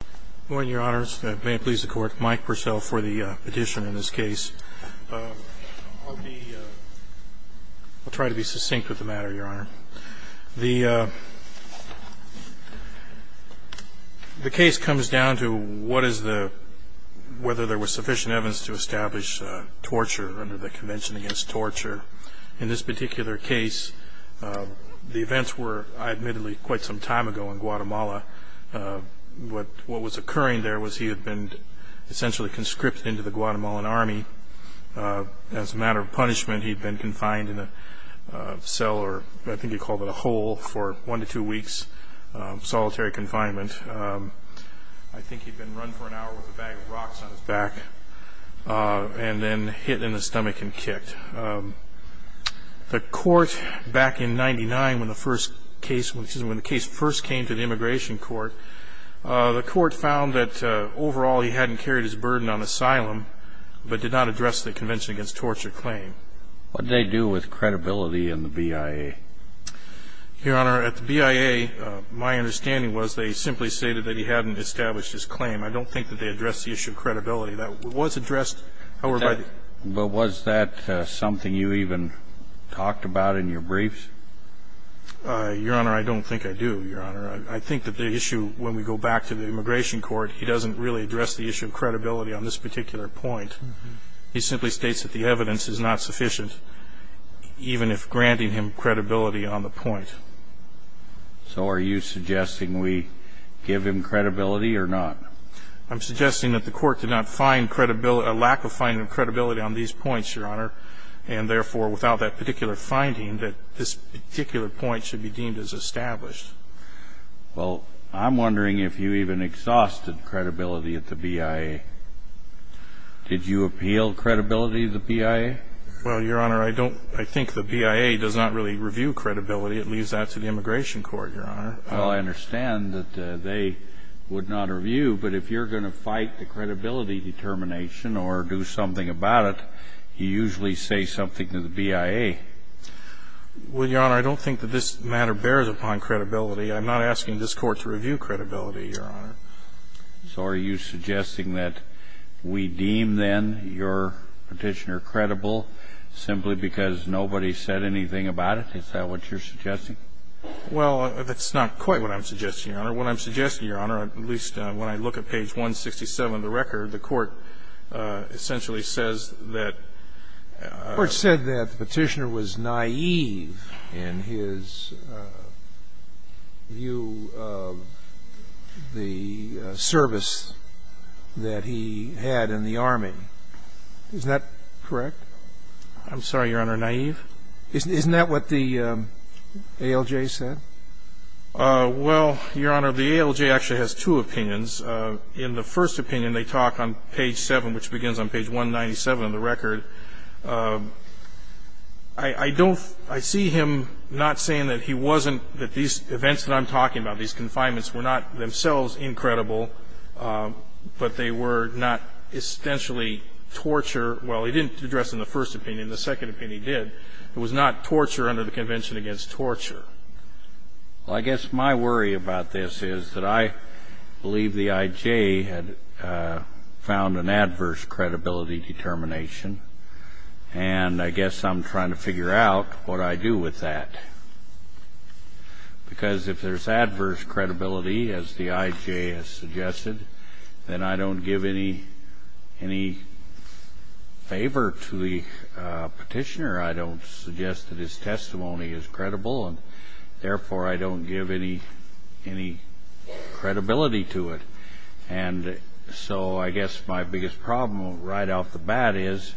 Good morning, Your Honors. May it please the Court, Mike Purcell for the petition in this case. I'll try to be succinct with the matter, Your Honor. The case comes down to whether there was sufficient evidence to establish torture under the Convention Against Torture. In this particular case, the events were, admittedly, quite some time ago in Guatemala. What was occurring there was he had been essentially conscripted into the Guatemalan Army. As a matter of punishment, he'd been confined in a cell, or I think he called it a hole, for one to two weeks of solitary confinement. I think he'd been run for an hour with a bag of rocks on his back, and then hit in the stomach and kicked. The Court, back in 1999, when the first case, excuse me, when the case first came to the Immigration Court, the Court found that overall he hadn't carried his burden on asylum, but did not address the Convention Against Torture claim. What did they do with credibility in the BIA? Your Honor, at the BIA, my understanding was they simply stated that he hadn't established his claim. I don't think that they addressed the issue of credibility. That was addressed, however, by the ---- But was that something you even talked about in your briefs? Your Honor, I don't think I do, Your Honor. I think that the issue, when we go back to the Immigration Court, he doesn't really address the issue of credibility on this particular point. He simply states that the evidence is not sufficient. Even if granting him credibility on the point. So are you suggesting we give him credibility or not? I'm suggesting that the Court did not find a lack of finding credibility on these points, Your Honor, and therefore, without that particular finding, that this particular point should be deemed as established. Well, I'm wondering if you even exhausted credibility at the BIA. Did you appeal credibility to the BIA? Well, Your Honor, I don't ---- I think the BIA does not really review credibility. It leaves that to the Immigration Court, Your Honor. Well, I understand that they would not review, but if you're going to fight the credibility determination or do something about it, you usually say something to the BIA. Well, Your Honor, I don't think that this matter bears upon credibility. I'm not asking this Court to review credibility, Your Honor. So are you suggesting that we deem, then, your Petitioner credible simply because nobody said anything about it? Is that what you're suggesting? Well, that's not quite what I'm suggesting, Your Honor. What I'm suggesting, Your Honor, at least when I look at page 167 of the record, the Court essentially says that ---- I'm sorry, Your Honor. Naive? Isn't that what the ALJ said? Well, Your Honor, the ALJ actually has two opinions. In the first opinion, they talk on page 7, which begins on page 197 of the record. I'm not saying that he wasn't ---- that these events that I'm talking about, these confinements, were not themselves incredible, but they were not essentially torture. Well, he didn't address it in the first opinion. In the second opinion, he did. It was not torture under the Convention against Torture. Well, I guess my worry about this is that I believe the IJ had found an adverse credibility determination. And I guess I'm trying to figure out what I do with that. Because if there's adverse credibility, as the IJ has suggested, then I don't give any favor to the petitioner. I don't suggest that his testimony is credible. And therefore, I don't give any credibility to it. And so I guess my biggest problem right off the bat is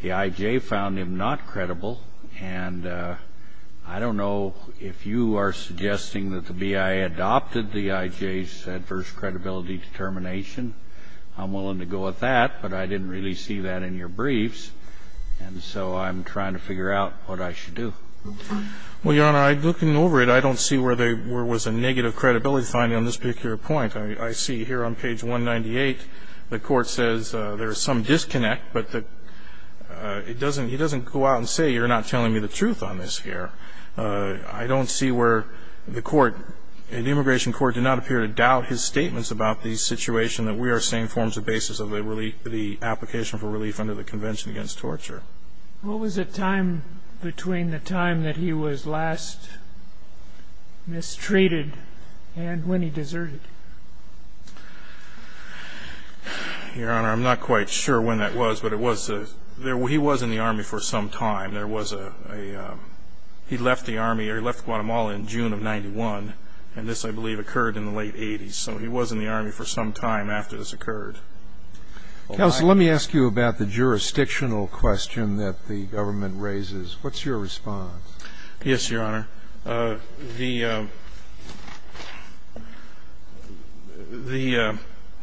the IJ found him not credible. And I don't know if you are suggesting that the BIA adopted the IJ's adverse credibility determination. I'm willing to go with that, but I didn't really see that in your briefs. And so I'm trying to figure out what I should do. Well, Your Honor, looking over it, I don't see where there was a negative credibility finding on this particular point. I see here on page 198, the Court says there is some disconnect, but it doesn't go out and say you're not telling me the truth on this here. I don't see where the Court, the Immigration Court did not appear to doubt his statements about the situation that we are saying forms the basis of the application for relief under the Convention against Torture. What was the time between the time that he was last mistreated and when he deserted? Your Honor, I'm not quite sure when that was, but he was in the Army for some time. He left the Army, or he left Guatemala in June of 1991. And this, I believe, occurred in the late 80s. So he was in the Army for some time after this occurred. Counsel, let me ask you about the jurisdictional question that the government raises. What's your response? Yes, Your Honor. The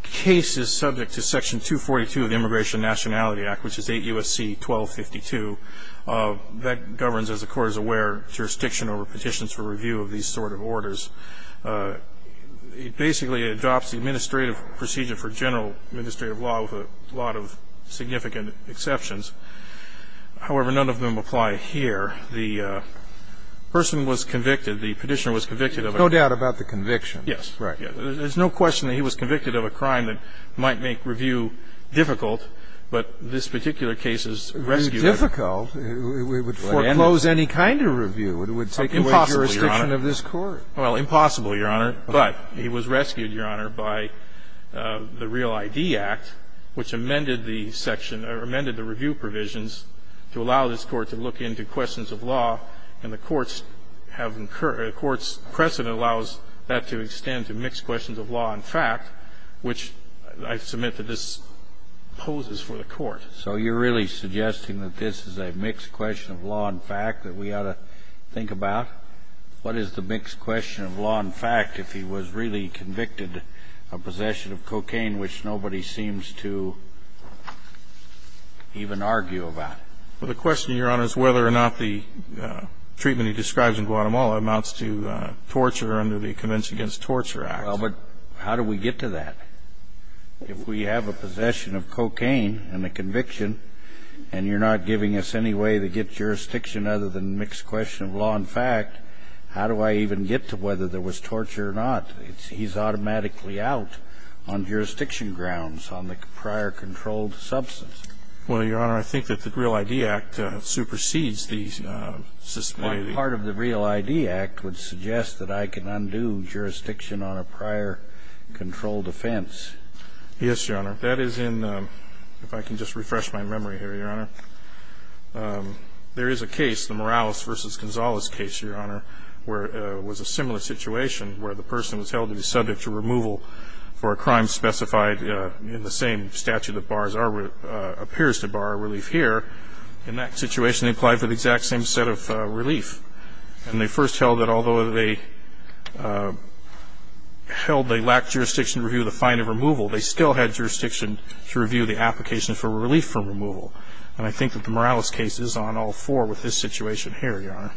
case is subject to Section 242 of the Immigration Nationality Act, which is 8 U.S.C. 1252. That governs, as the Court is aware, jurisdiction over petitions for review of these sort of orders. It basically adopts the administrative procedure for general administrative law with a lot of significant exceptions. However, none of them apply here. The person was convicted. The petitioner was convicted of a crime. There's no doubt about the conviction. Yes. Right. There's no question that he was convicted of a crime that might make review difficult, but this particular case is rescued. It would be difficult. It would foreclose any kind of review. It would take away jurisdiction of this Court. Impossible, Your Honor. Well, impossible, Your Honor. But he was rescued, Your Honor, by the Real ID Act, which amended the section or amended the review provisions to allow this Court to look into questions of law. And the Court's precedent allows that to extend to mixed questions of law and fact, which I submit that this poses for the Court. So you're really suggesting that this is a mixed question of law and fact that we ought to think about? What is the mixed question of law and fact if he was really convicted of possession of cocaine, which nobody seems to even argue about? Well, the question, Your Honor, is whether or not the treatment he describes in Guatemala amounts to torture under the Convention Against Torture Act. Well, but how do we get to that? If we have a possession of cocaine and a conviction and you're not giving us any way to get jurisdiction other than mixed question of law and fact, how do I even get to whether there was torture or not? He's automatically out on jurisdiction grounds on the prior controlled substance. Well, Your Honor, I think that the Real ID Act supersedes the system. Part of the Real ID Act would suggest that I can undo jurisdiction on a prior controlled offense. Yes, Your Honor. That is in the ‑‑ if I can just refresh my memory here, Your Honor. There is a case, the Morales v. Gonzales case, Your Honor, where it was a similar situation where the person was held to be subject to removal for a crime specified in the same statute that appears to bar relief here. In that situation, they applied for the exact same set of relief. And they first held that although they lacked jurisdiction to review the fine of removal, they still had jurisdiction to review the application for relief from removal. And I think that the Morales case is on all four with this situation here, Your Honor.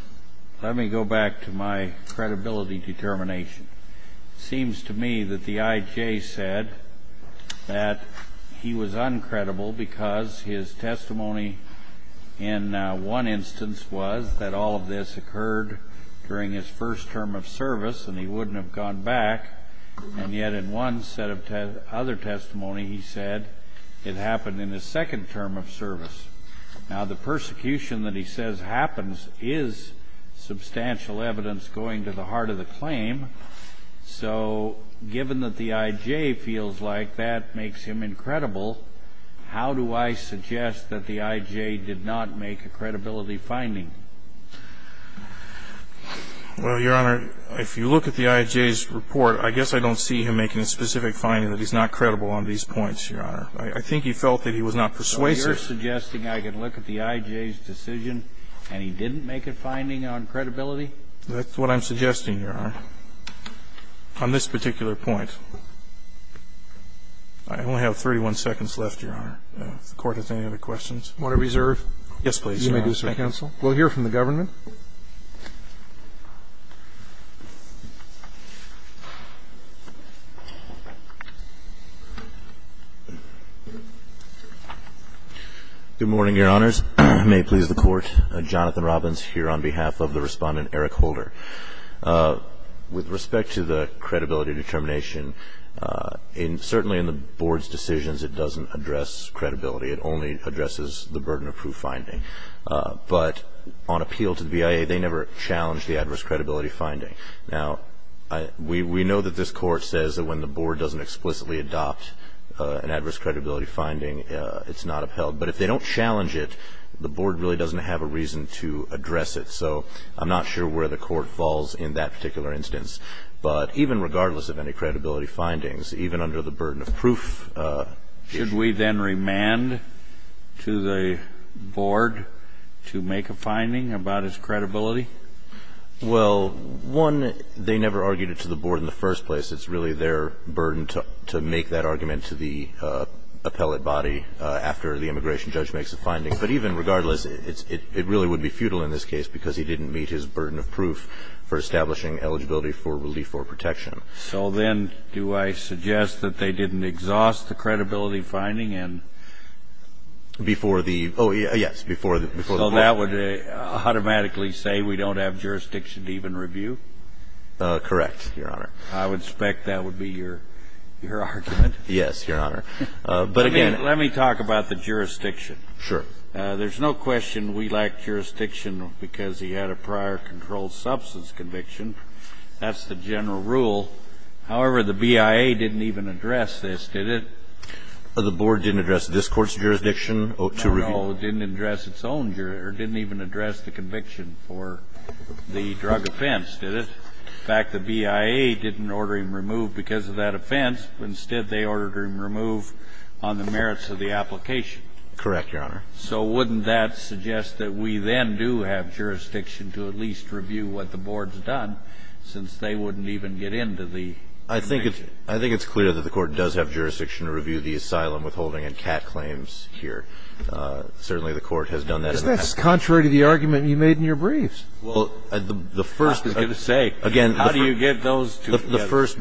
Let me go back to my credibility determination. It seems to me that the I.J. said that he was uncredible because his testimony in one instance was that all of this occurred during his first term of service and he wouldn't have gone back. And yet in one set of other testimony, he said it happened in his second term of service. Now, the persecution that he says happens is substantial evidence going to the court. So given that the I.J. feels like that makes him incredible, how do I suggest that the I.J. did not make a credibility finding? Well, Your Honor, if you look at the I.J.'s report, I guess I don't see him making a specific finding that he's not credible on these points, Your Honor. I think he felt that he was not persuasive. So you're suggesting I can look at the I.J.'s decision and he didn't make a finding on credibility? That's what I'm suggesting, Your Honor, on this particular point. I only have 31 seconds left, Your Honor. If the Court has any other questions. Want to reserve? Yes, please, Your Honor. You may do so, counsel. We'll hear from the government. Good morning, Your Honors. May it please the Court. Jonathan Robbins here on behalf of the Respondent Eric Holder. With respect to the credibility determination, certainly in the Board's decisions, it doesn't address credibility. It only addresses the burden of proof finding. But on appeal to the BIA, they never challenge the adverse credibility finding. Now, we know that this Court says that when the Board doesn't explicitly adopt an adverse credibility finding, it's not upheld. But if they don't challenge it, the Board really doesn't have a reason to address it. So I'm not sure where the Court falls in that particular instance. But even regardless of any credibility findings, even under the burden of proof. Should we then remand to the Board to make a finding about its credibility? Well, one, they never argued it to the Board in the first place. It's really their burden to make that argument to the appellate body after the immigration judge makes a finding. But even regardless, it really would be futile in this case because he didn't meet his burden of proof for establishing eligibility for relief or protection. So then do I suggest that they didn't exhaust the credibility finding and before the Board? Oh, yes, before the Board. So that would automatically say we don't have jurisdiction to even review? Correct, Your Honor. I would expect that would be your argument. Yes, Your Honor. But again. Let me talk about the jurisdiction. Sure. There's no question we lack jurisdiction because he had a prior controlled substance conviction. That's the general rule. However, the BIA didn't even address this, did it? The Board didn't address this Court's jurisdiction to review? No, no. It didn't address its own jurisdiction. It didn't even address the conviction for the drug offense, did it? In fact, the BIA didn't order him removed because of that offense. Instead, they ordered him removed on the merits of the application. Correct, Your Honor. So wouldn't that suggest that we then do have jurisdiction to at least review what the Board's done since they wouldn't even get into the intervention? I think it's clear that the Court does have jurisdiction to review the asylum withholding and CAT claims here. Certainly the Court has done that in the past. Isn't that contrary to the argument you made in your briefs? Well, the first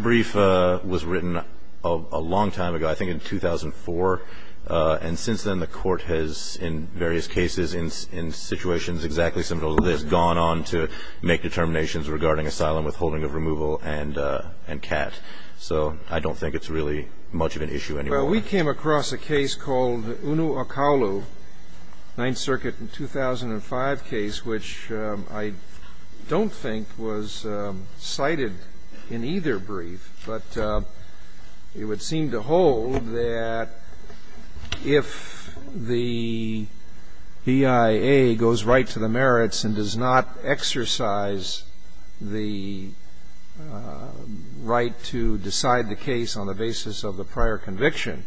brief was written a long time ago, I think in 2004, and since then the Court has, in various cases, in situations exactly similar to this, gone on to make determinations regarding asylum withholding of removal and CAT. So I don't think it's really much of an issue anymore. Well, we came across a case called UNO Okaolu, Ninth Circuit in 2005 case, which I don't think was cited in either brief, but it would seem to hold that if the BIA goes right to the merits and does not exercise the right to decide the case on the basis of the prior conviction,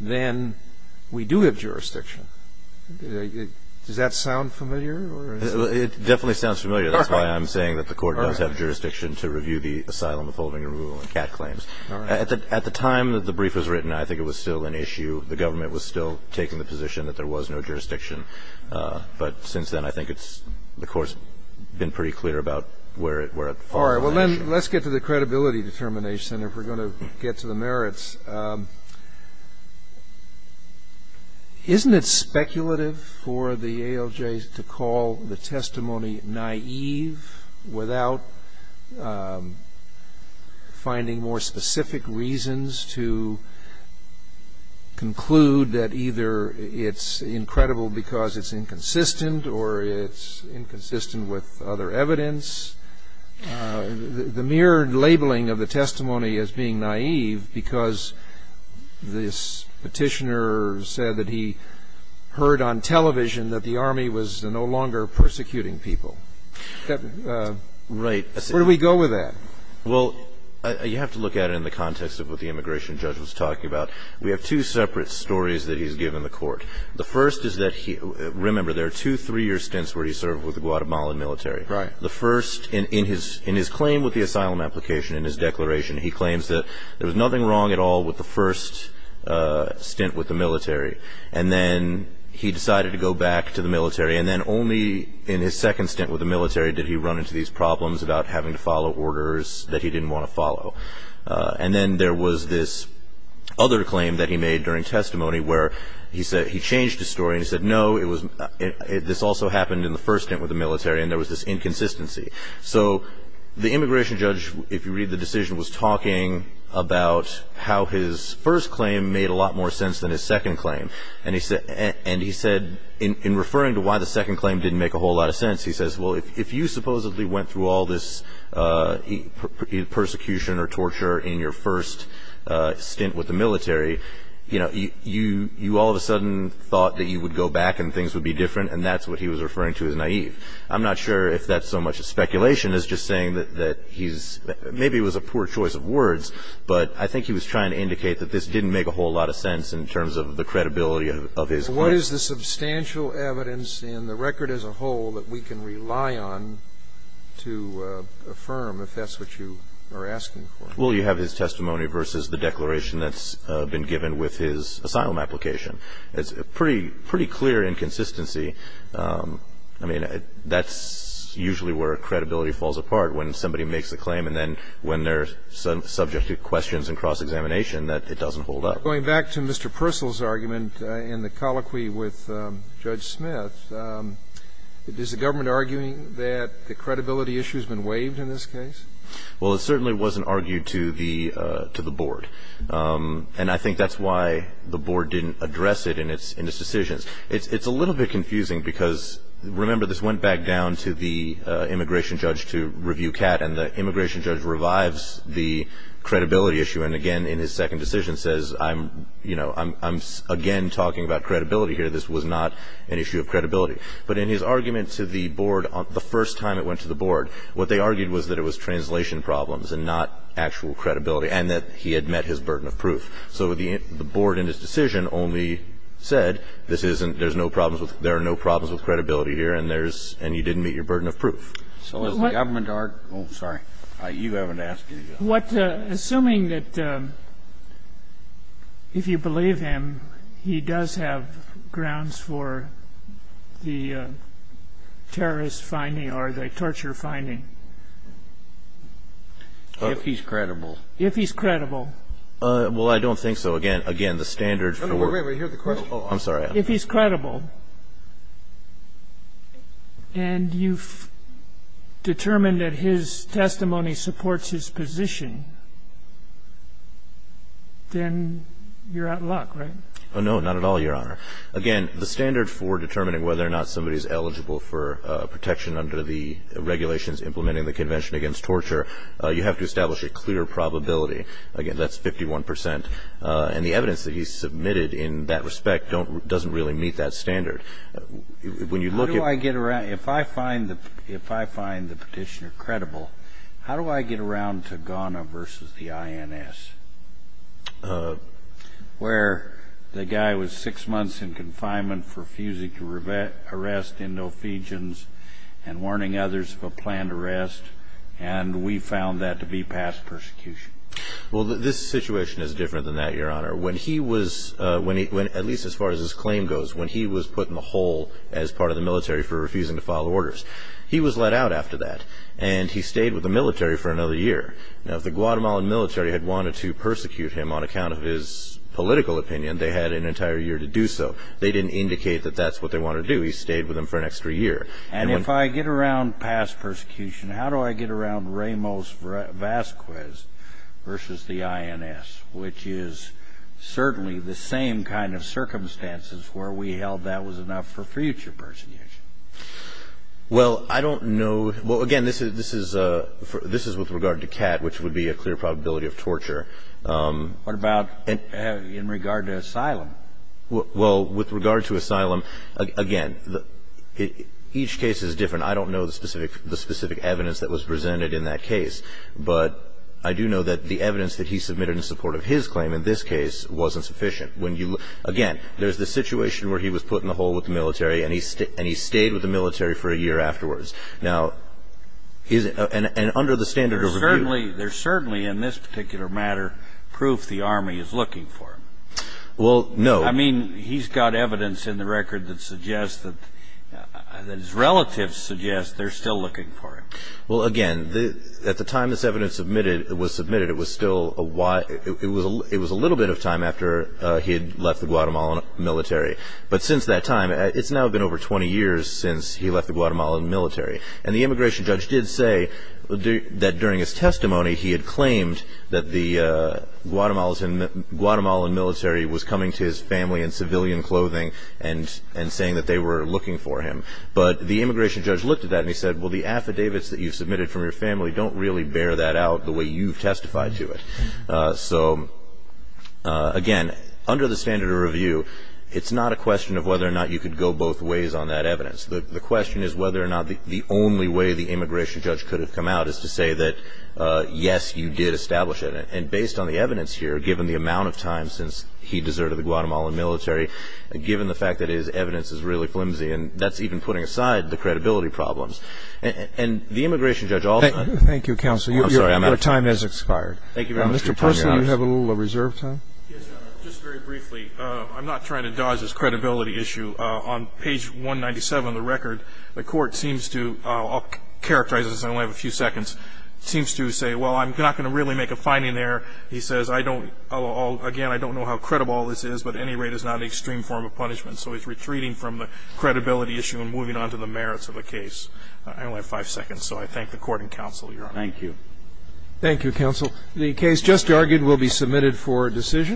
then we do have jurisdiction. Does that sound familiar? It definitely sounds familiar. That's why I'm saying that the Court does have jurisdiction to review the asylum withholding and removal and CAT claims. At the time that the brief was written, I think it was still an issue. The government was still taking the position that there was no jurisdiction. But since then I think it's the Court's been pretty clear about where it falls. All right. Well, then let's get to the credibility determination. If we're going to get to the merits. Isn't it speculative for the ALJ to call the testimony naive without finding more specific reasons to conclude that either it's incredible because it's inconsistent or it's inconsistent with other evidence? The mere labeling of the testimony as being naive because this petitioner said that he heard on television that the Army was no longer persecuting people. Right. Where do we go with that? Well, you have to look at it in the context of what the immigration judge was talking about. We have two separate stories that he's given the Court. The first is that he – remember, there are two three-year stints where he served with the Guatemalan military. Right. The first – in his claim with the asylum application, in his declaration, he claims that there was nothing wrong at all with the first stint with the military. And then he decided to go back to the military. And then only in his second stint with the military did he run into these problems about having to follow orders that he didn't want to follow. And then there was this other claim that he made during testimony where he said – he changed his story and he said, no, it was – this also happened in the first stint with the military and there was this inconsistency. So the immigration judge, if you read the decision, was talking about how his first claim made a lot more sense than his second claim. And he said – in referring to why the second claim didn't make a whole lot of sense, he says, well, if you supposedly went through all this persecution or torture in your first stint with the military, you know, you all of a sudden thought that you would go back and things would be different. And that's what he was referring to as naive. I'm not sure if that's so much speculation as just saying that he's – maybe it was a poor choice of words, but I think he was trying to indicate that this didn't make a whole lot of sense in terms of the credibility of his claim. What is the substantial evidence in the record as a whole that we can rely on to affirm if that's what you are asking for? Well, you have his testimony versus the declaration that's been given with his asylum application. It's a pretty clear inconsistency. I mean, that's usually where credibility falls apart, when somebody makes a claim and then when they're subject to questions and cross-examination, that it doesn't hold up. Going back to Mr. Purcell's argument in the colloquy with Judge Smith, is the government arguing that the credibility issue has been waived in this case? Well, it certainly wasn't argued to the board. And I think that's why the board didn't address it in its decisions. It's a little bit confusing because, remember, this went back down to the immigration judge to review Catt, and the immigration judge revives the credibility issue and again in his second decision says, I'm again talking about credibility here, this was not an issue of credibility. But in his argument to the board, the first time it went to the board, what they argued was that it was translation problems and not actual credibility, and that he had met his burden of proof. So the board in his decision only said, this isn't, there's no problems with, there are no problems with credibility here and there's, and you didn't meet your burden of proof. So has the government argued? Oh, sorry. You haven't asked. What, assuming that if you believe him, he does have grounds for the terrorist finding or the torture finding? If he's credible. If he's credible. Well, I don't think so. Again, the standard for. Wait, wait. I'm sorry. If he's credible and you've determined that his testimony supports his position, then you're out of luck, right? No, not at all, Your Honor. Again, the standard for determining whether or not somebody's eligible for protection under the regulations implementing the Convention Against Torture, you have to establish a clear probability. Again, that's 51%. And the evidence that he submitted in that respect doesn't really meet that standard. When you look at. How do I get around, if I find the petitioner credible, how do I get around to Ghana versus the INS? Where the guy was six months in confinement for refusing to arrest Indofegians and warning others of a planned arrest, and we found that to be past persecution. Well, this situation is different than that, Your Honor. When he was, at least as far as his claim goes, when he was put in the hole as part of the military for refusing to file orders, he was let out after that, and he stayed with the military for another year. Now, if the Guatemalan military had wanted to persecute him on account of his political opinion, they had an entire year to do so. They didn't indicate that that's what they wanted to do. He stayed with them for an extra year. And if I get around past persecution, how do I get around Ramos-Vasquez versus the INS, which is certainly the same kind of circumstances where we held that was enough for future persecution? Well, I don't know. Well, again, this is with regard to Catt, which would be a clear probability of torture. What about in regard to asylum? Well, with regard to asylum, again, each case is different. I don't know the specific evidence that was presented in that case, but I do know that the evidence that he submitted in support of his claim in this case wasn't sufficient. Again, there's the situation where he was put in the hole with the military and he stayed with the military for a year afterwards. Now, and under the standard of review. There's certainly, in this particular matter, proof the Army is looking for him. Well, no. I mean, he's got evidence in the record that suggests that his relatives suggest they're still looking for him. Well, again, at the time this evidence was submitted, it was still a little bit of time after he had left the Guatemalan military. But since that time, it's now been over 20 years since he left the Guatemalan military. And the immigration judge did say that during his testimony he had claimed that the Guatemalan military was coming to his family in civilian clothing and saying that they were looking for him. But the immigration judge looked at that and he said, well, the affidavits that you submitted from your family don't really bear that out the way you've testified to it. So, again, under the standard of review, it's not a question of whether or not you could go both ways on that evidence. The question is whether or not the only way the immigration judge could have come out is to say that, yes, you did establish it. And based on the evidence here, given the amount of time since he deserted the Guatemalan military, given the fact that his evidence is really flimsy, and that's even putting aside the credibility problems. And the immigration judge also – Thank you, counsel. I'm sorry, I'm out of time. Your time has expired. Thank you very much. Mr. Parson, you have a little reserve time. Yes, Your Honor. Just very briefly, I'm not trying to dodge this credibility issue. On page 197 of the record, the Court seems to – I'll characterize this, I only have a few seconds – seems to say, well, I'm not going to really make a finding there. He says, I don't – again, I don't know how credible all this is, but at any rate it's not an extreme form of punishment. So he's retreating from the credibility issue and moving on to the merits of the case. I only have five seconds, so I thank the Court and counsel, Your Honor. Thank you. Thank you, counsel. The case just argued will be submitted for decision.